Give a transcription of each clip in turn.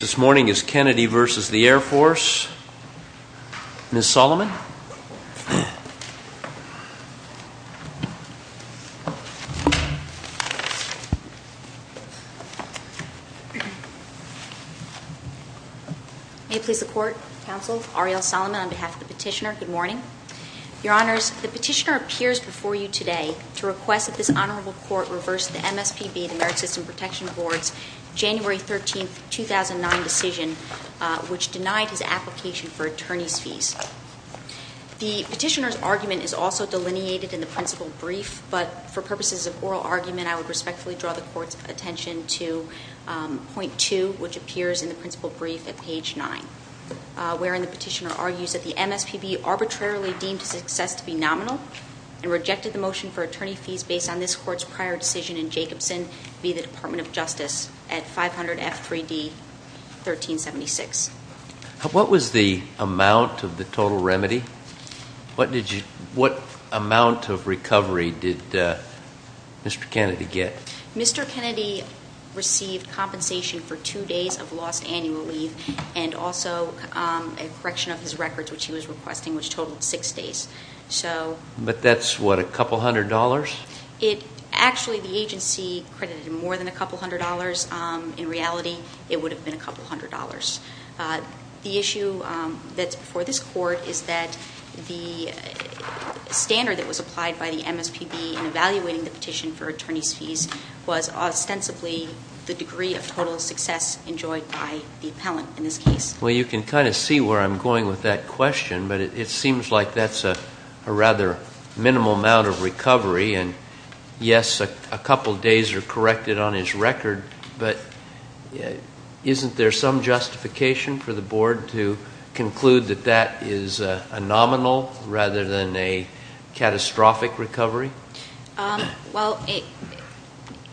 This morning is Kennedy v. The Air Force. Ms. Solomon. May it please the Court, Counsel, Arielle Solomon on behalf of the Petitioner, good morning. Your Honors, the Petitioner appears before you today to request that this Honorable Court reverse the MSPB, the Merit System Protection Boards, January 13, 2009 decision, which denied his application for attorney's fees. The Petitioner's argument is also delineated in the principal brief, but for purposes of oral argument, I would respectfully draw the Court's attention to point two, which appears in the principal brief at page nine, wherein the Petitioner argues that the MSPB arbitrarily deemed his success to be nominal and rejected the motion for attorney fees based on this Court's prior decision in Jacobson v. The Department of Justice at 500 F. 3D, 1376. What was the amount of the total remedy? What amount of recovery did Mr. Kennedy get? Mr. Kennedy received compensation for two days of lost annual leave and also a correction of his records, which he was requesting, which totaled six days. But that's what, a couple hundred dollars? Actually, the agency credited him more than a couple hundred dollars. In reality, it would have been a couple hundred dollars. The issue that's before this Court is that the standard that was applied by the MSPB in evaluating the petition for attorney's fees was ostensibly the degree of total success enjoyed by the appellant in this case. Well, you can kind of see where I'm going with that question, but it seems like that's a rather minimal amount of recovery. And yes, a couple days are corrected on his record, but isn't there some justification for the Board to conclude that that is a nominal rather than a catastrophic recovery? Well,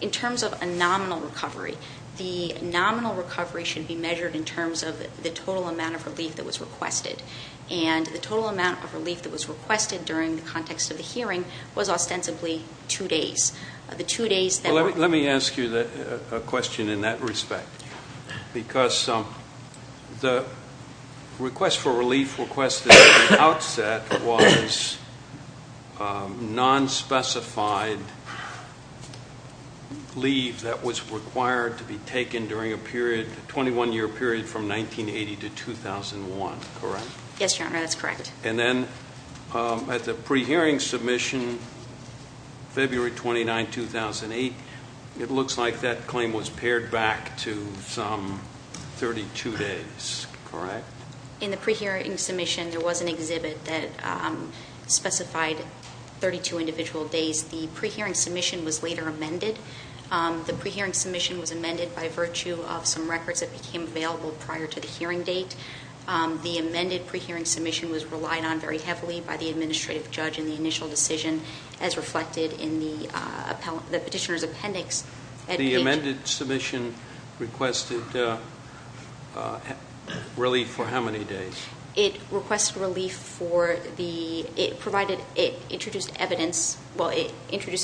in terms of a nominal recovery, the nominal recovery should be measured in terms of the total amount of relief that was requested. And the total amount of relief that was requested during the context of the hearing was ostensibly two days. Well, let me ask you a question in that respect. Because the request for relief requested at the outset was non-specified leave that was required to be taken during a 21-year period from 1980 to 2001, correct? Yes, Your Honor, that's correct. And then at the pre-hearing submission, February 29, 2008, it looks like that claim was pared back to some 32 days, correct? In the pre-hearing submission, there was an exhibit that specified 32 individual days. The pre-hearing submission was later amended. The pre-hearing submission was amended by virtue of some records that became available prior to the hearing date. The amended pre-hearing submission was relied on very heavily by the administrative judge in the initial decision, as reflected in the petitioner's appendix. The amended submission requested relief for how many days? It requested relief for the, it introduced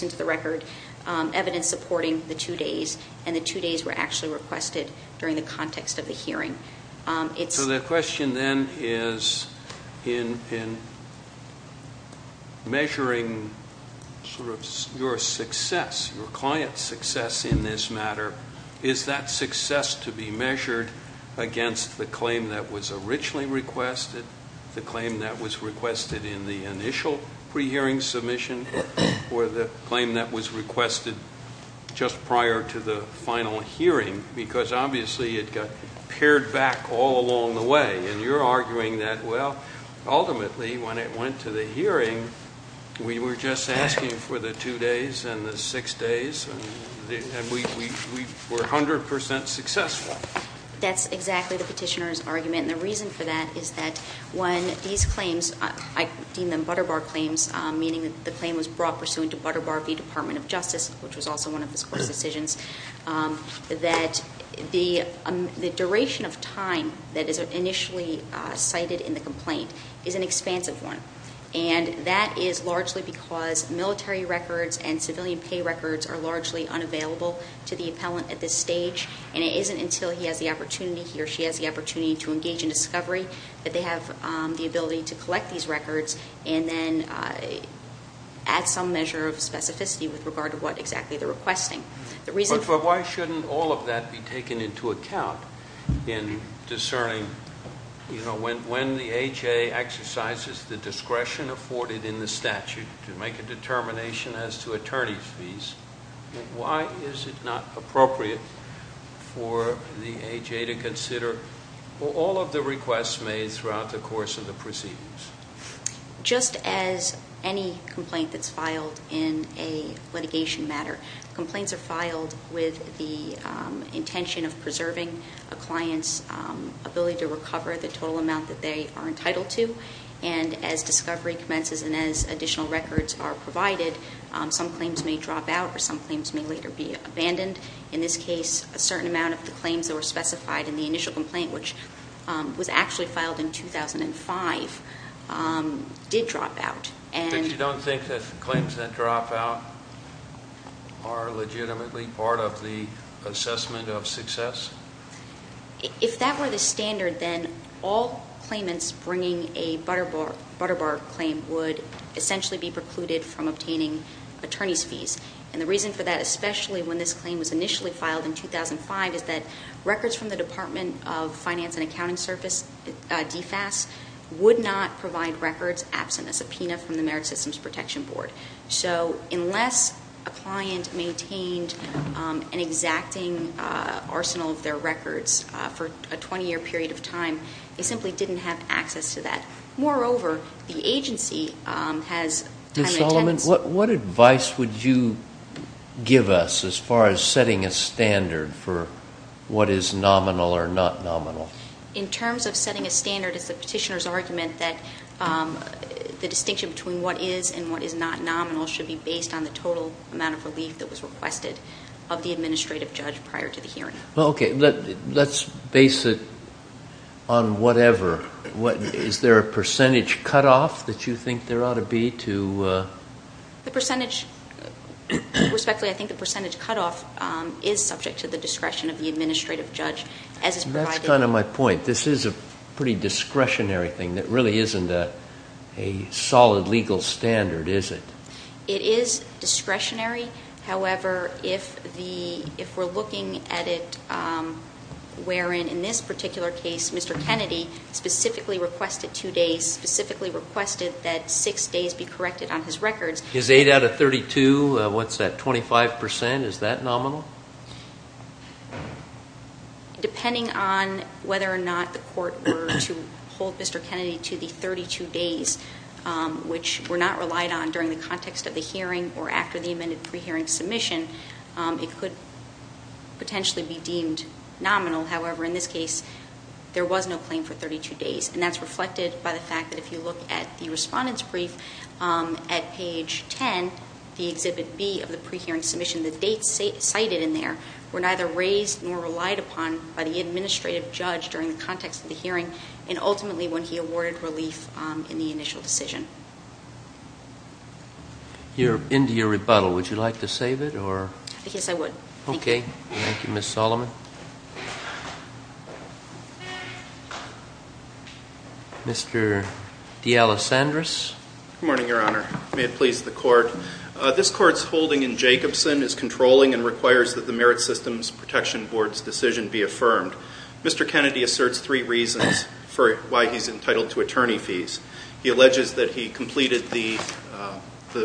into the record evidence supporting the two days. And the two days were actually requested during the context of the hearing. So the question then is in measuring sort of your success, your client's success in this matter, is that success to be measured against the claim that was originally requested, the claim that was requested in the initial pre-hearing submission, or the claim that was requested just prior to the final hearing, because obviously it got pared back all along the way. And you're arguing that, well, ultimately when it went to the hearing, we were just asking for the two days and the six days, and we were 100% successful. That's exactly the petitioner's argument. And the reason for that is that when these claims, I deem them Butter Bar claims, meaning that the claim was brought pursuant to Butter Bar v. Department of Justice, which was also one of his course decisions, that the duration of time that is initially cited in the complaint is an expansive one. And that is largely because military records and civilian pay records are largely unavailable to the appellant at this stage. And it isn't until he has the opportunity, he or she has the opportunity to engage in discovery that they have the ability to collect these records and then add some measure of specificity with regard to what exactly they're requesting. But why shouldn't all of that be taken into account in discerning, you know, when the AHA exercises the discretion afforded in the statute to make a determination as to attorney's fees, why is it not appropriate for the AHA to consider all of the requests made throughout the course of the proceedings? Just as any complaint that's filed in a litigation matter, complaints are filed with the intention of preserving a client's ability to recover the total amount that they are entitled to. And as discovery commences and as additional records are provided, some claims may drop out or some claims may later be abandoned. In this case, a certain amount of the claims that were specified in the initial complaint, which was actually filed in 2005, did drop out. But you don't think that claims that drop out are legitimately part of the assessment of success? If that were the standard, then all claimants bringing a Butter Bar claim would essentially be precluded from obtaining attorney's fees. And the reason for that, especially when this claim was initially filed in 2005, is that records from the Department of Finance and Accounting Service, DFAS, would not provide records absent a subpoena from the Merit Systems Protection Board. So unless a client maintained an exacting arsenal of their records for a 20-year period of time, they simply didn't have access to that. Moreover, the agency has time and attendance. Ms. Solomon, what advice would you give us as far as setting a standard for what is nominal or not nominal? In terms of setting a standard, it's the petitioner's argument that the distinction between what is and what is not nominal should be based on the total amount of relief that was requested of the administrative judge prior to the hearing. Well, okay, let's base it on whatever. Is there a percentage cutoff that you think there ought to be to... Respectfully, I think the percentage cutoff is subject to the discretion of the administrative judge as is provided. That's kind of my point. This is a pretty discretionary thing that really isn't a solid legal standard, is it? It is discretionary. However, if we're looking at it wherein in this particular case Mr. Kennedy specifically requested two days, specifically requested that six days be corrected on his records... Is 8 out of 32, what's that, 25%? Is that nominal? Depending on whether or not the court were to hold Mr. Kennedy to the 32 days, which we're not relied on during the context of the hearing or after the amended pre-hearing submission, it could potentially be deemed nominal. However, in this case, there was no claim for 32 days, and that's reflected by the fact that if you look at the respondent's brief at page 10, the Exhibit B of the pre-hearing submission, the dates cited in there were neither raised nor relied upon by the administrative judge during the context of the hearing, and ultimately when he awarded relief in the initial decision. You're into your rebuttal. Would you like to save it? Yes, I would. Okay. Thank you, Ms. Solomon. Mr. D'Alessandris? Good morning, Your Honor. May it please the Court. This Court's holding in Jacobson is controlling and requires that the Merit Systems Protection Board's decision be affirmed. Mr. Kennedy asserts three reasons for why he's entitled to attorney fees. He alleges that he completed the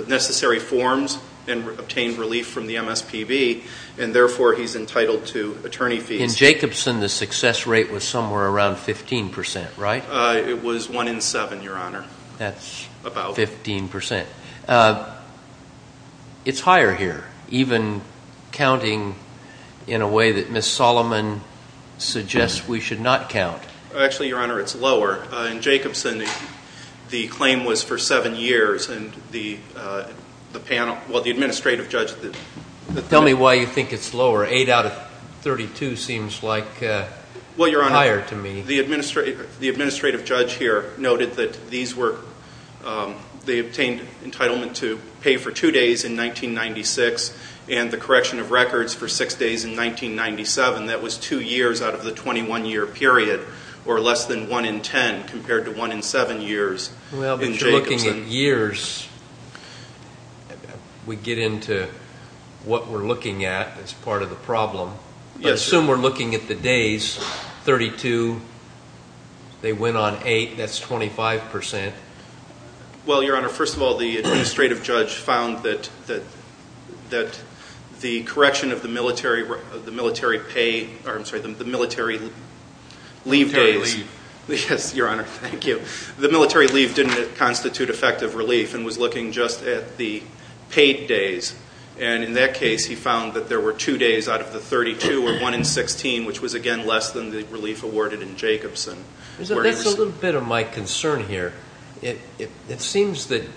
necessary forms and obtained relief from the MSPB, and therefore he's entitled to attorney fees. In Jacobson, the success rate was somewhere around 15%, right? It was 1 in 7, Your Honor. That's 15%. It's higher here, even counting in a way that Ms. Solomon suggests we should not count. Actually, Your Honor, it's lower. In Jacobson, the claim was for seven years, and the panel, well, the administrative judge. Tell me why you think it's lower. Eight out of 32 seems like higher to me. The administrative judge here noted that these were, they obtained entitlement to pay for two days in 1996 and the correction of records for six days in 1997. That was two years out of the 21-year period, or less than 1 in 10 compared to 1 in 7 years in Jacobson. Well, but you're looking at years. I assume we're looking at the days, 32. They went on eight. That's 25%. Well, Your Honor, first of all, the administrative judge found that the correction of the military pay, or I'm sorry, the military leave days. Military leave. Yes, Your Honor. Thank you. The military leave didn't constitute effective relief and was looking just at the paid days, and in that case he found that there were two days out of the 32, or 1 in 16, which was, again, less than the relief awarded in Jacobson. That's a little bit of my concern here. It seems that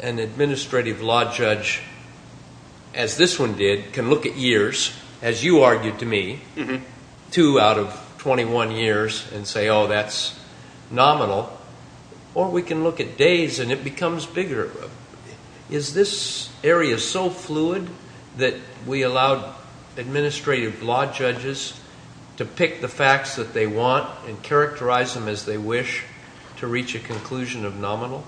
an administrative law judge, as this one did, can look at years, as you argued to me, two out of 21 years and say, oh, that's nominal. Or we can look at days and it becomes bigger. Is this area so fluid that we allowed administrative law judges to pick the facts that they want and characterize them as they wish to reach a conclusion of nominal?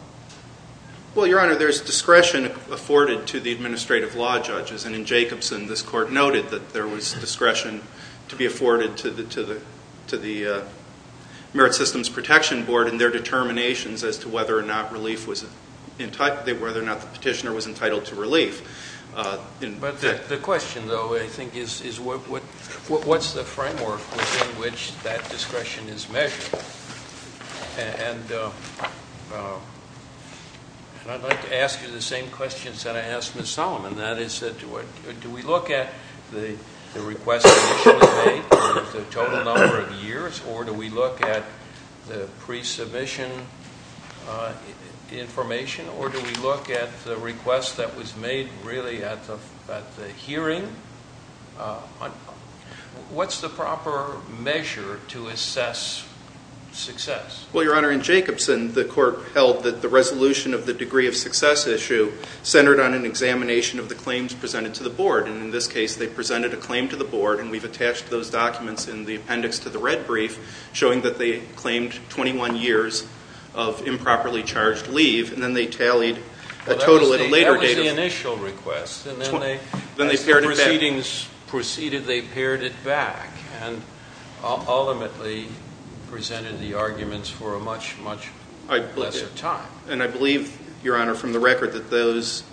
Well, Your Honor, there's discretion afforded to the administrative law judges, and in Jacobson this court noted that there was discretion to be afforded to the Merit Systems Protection Board in their determinations as to whether or not the petitioner was entitled to relief. But the question, though, I think, is what's the framework within which that discretion is measured? And I'd like to ask you the same questions that I asked Ms. Solomon. Do we look at the request initially made, the total number of years, or do we look at the pre-submission information, or do we look at the request that was made really at the hearing? What's the proper measure to assess success? Well, Your Honor, in Jacobson the court held that the resolution of the degree of success issue centered on an examination of the claims presented to the board, and in this case they presented a claim to the board, and we've attached those documents in the appendix to the red brief showing that they claimed 21 years of improperly charged leave, and then they tallied the total at a later date. That was the initial request, and then as the proceedings proceeded they pared it back and ultimately presented the arguments for a much, much lesser time. And I believe, Your Honor, from the record that those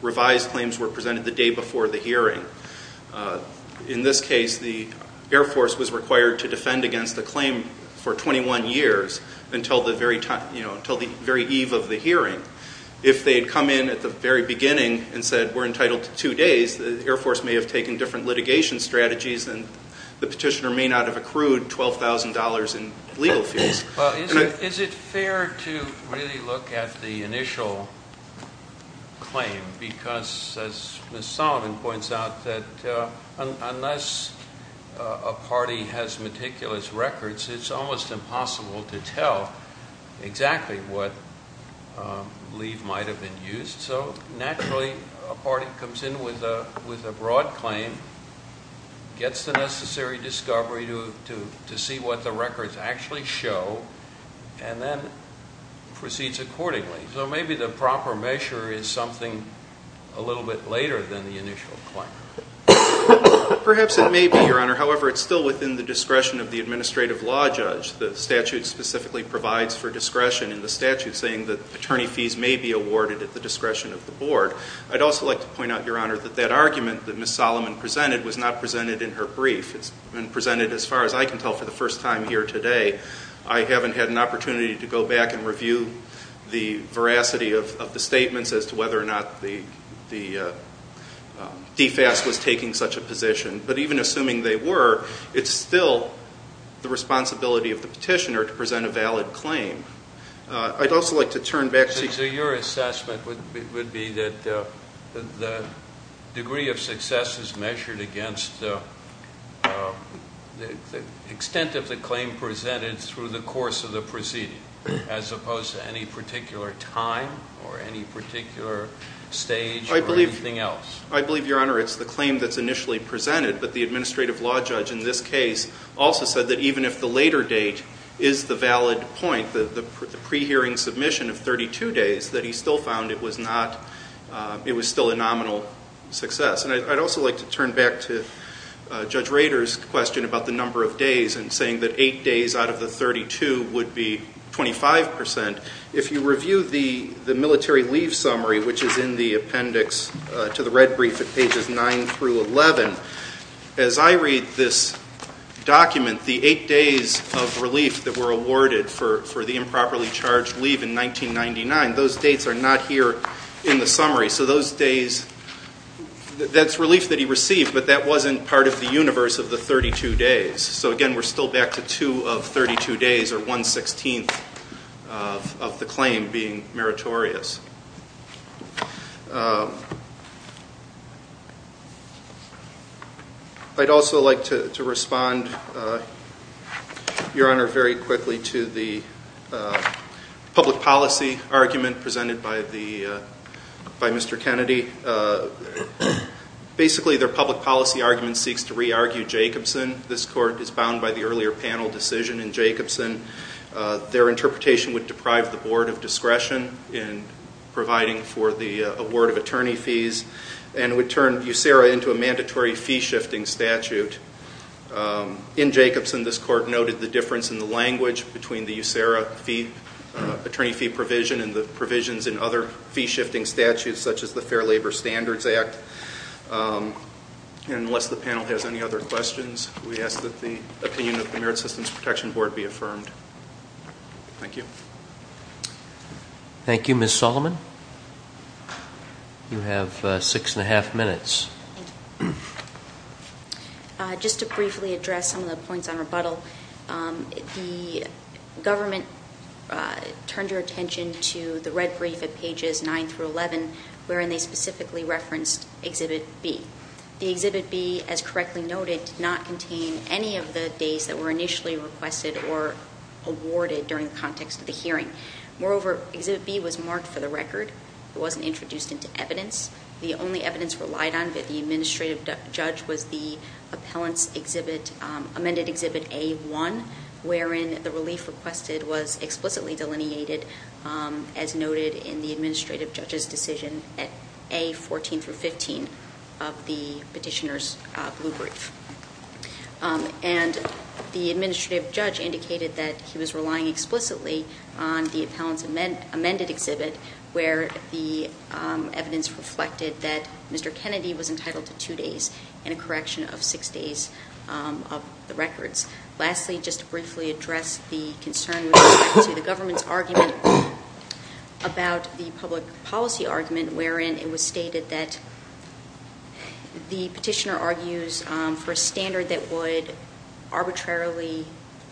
revised claims were presented the day before the hearing. In this case, the Air Force was required to defend against the claim for 21 years until the very eve of the hearing. If they had come in at the very beginning and said, we're entitled to two days, the Air Force may have taken different litigation strategies and the petitioner may not have accrued $12,000 in legal fees. Well, is it fair to really look at the initial claim? Because, as Ms. Sullivan points out, that unless a party has meticulous records, it's almost impossible to tell exactly what leave might have been used, so naturally a party comes in with a broad claim, gets the necessary discovery to see what the records actually show, and then proceeds accordingly. So maybe the proper measure is something a little bit later than the initial claim. Perhaps it may be, Your Honor. However, it's still within the discretion of the administrative law judge. The statute specifically provides for discretion in the statute, saying that attorney fees may be awarded at the discretion of the board. I'd also like to point out, Your Honor, that that argument that Ms. Sullivan presented was not presented in her brief. It's been presented, as far as I can tell, for the first time here today. I haven't had an opportunity to go back and review the veracity of the statements as to whether or not the DFAS was taking such a position. But even assuming they were, it's still the responsibility of the petitioner to present a valid claim. I'd also like to turn back to the- as opposed to any particular time or any particular stage or anything else. I believe, Your Honor, it's the claim that's initially presented, but the administrative law judge in this case also said that even if the later date is the valid point, the pre-hearing submission of 32 days, that he still found it was not-it was still a nominal success. And I'd also like to turn back to Judge Rader's question about the number of days and saying that 8 days out of the 32 would be 25 percent. If you review the military leave summary, which is in the appendix to the red brief at pages 9 through 11, as I read this document, the 8 days of relief that were awarded for the improperly charged leave in 1999, those dates are not here in the summary. So those days-that's relief that he received, but that wasn't part of the universe of the 32 days. So, again, we're still back to 2 of 32 days or 1 16th of the claim being meritorious. I'd also like to respond, Your Honor, very quickly to the public policy argument presented by the-by Mr. Kennedy. Basically, their public policy argument seeks to re-argue Jacobson. This court is bound by the earlier panel decision in Jacobson. Their interpretation would deprive the Board of Discretion in providing for the award of attorney fees and would turn USERA into a mandatory fee-shifting statute. In Jacobson, this court noted the difference in the language between the USERA fee-attorney fee provision and the provisions in other fee-shifting statutes, such as the Fair Labor Standards Act. And unless the panel has any other questions, we ask that the opinion of the Merit Systems Protection Board be affirmed. Thank you. Thank you. Ms. Solomon, you have 6 1⁄2 minutes. Thank you. Just to briefly address some of the points on rebuttal, the government turned their attention to the red brief at pages 9 through 11, wherein they specifically referenced Exhibit B. The Exhibit B, as correctly noted, did not contain any of the days that were initially requested or awarded during the context of the hearing. Moreover, Exhibit B was marked for the record. It wasn't introduced into evidence. The only evidence relied on by the administrative judge was the appellant's amended Exhibit A1, wherein the relief requested was explicitly delineated, as noted in the administrative judge's decision at A14 through 15 of the petitioner's blue brief. And the administrative judge indicated that he was relying explicitly on the appellant's amended exhibit, where the evidence reflected that Mr. Kennedy was entitled to two days and a correction of six days of the records. Lastly, just to briefly address the concern with respect to the government's argument about the public policy argument, wherein it was stated that the petitioner argues for a standard that would arbitrarily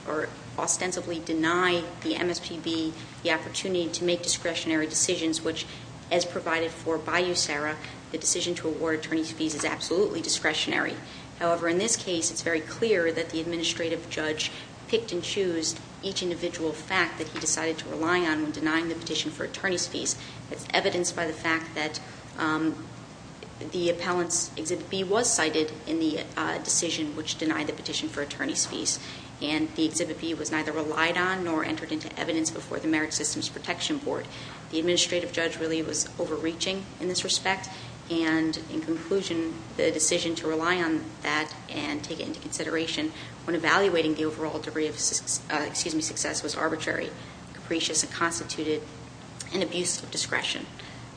or ostensibly deny the MSPB the opportunity to make discretionary decisions, which, as provided for by USARA, the decision to award attorney's fees is absolutely discretionary. However, in this case, it's very clear that the administrative judge picked and chose each individual fact that he decided to rely on when denying the petition for attorney's fees. It's evidenced by the fact that the appellant's Exhibit B was cited in the decision which denied the petition for attorney's fees, and the Exhibit B was neither relied on nor entered into evidence before the Merit Systems Protection Board. The administrative judge really was overreaching in this respect, and in conclusion, the decision to rely on that and take it into consideration when evaluating the overall degree of success was arbitrary, capricious, and constituted an abuse of discretion.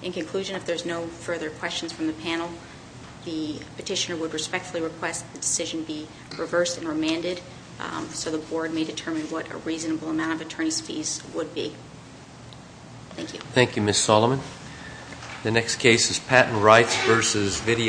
In conclusion, if there's no further questions from the panel, the petitioner would respectfully request that the decision be reversed and remanded so the Board may determine what a reasonable amount of attorney's fees would be. Thank you. Thank you, Ms. Solomon. The next case is Patent Rights v. Video.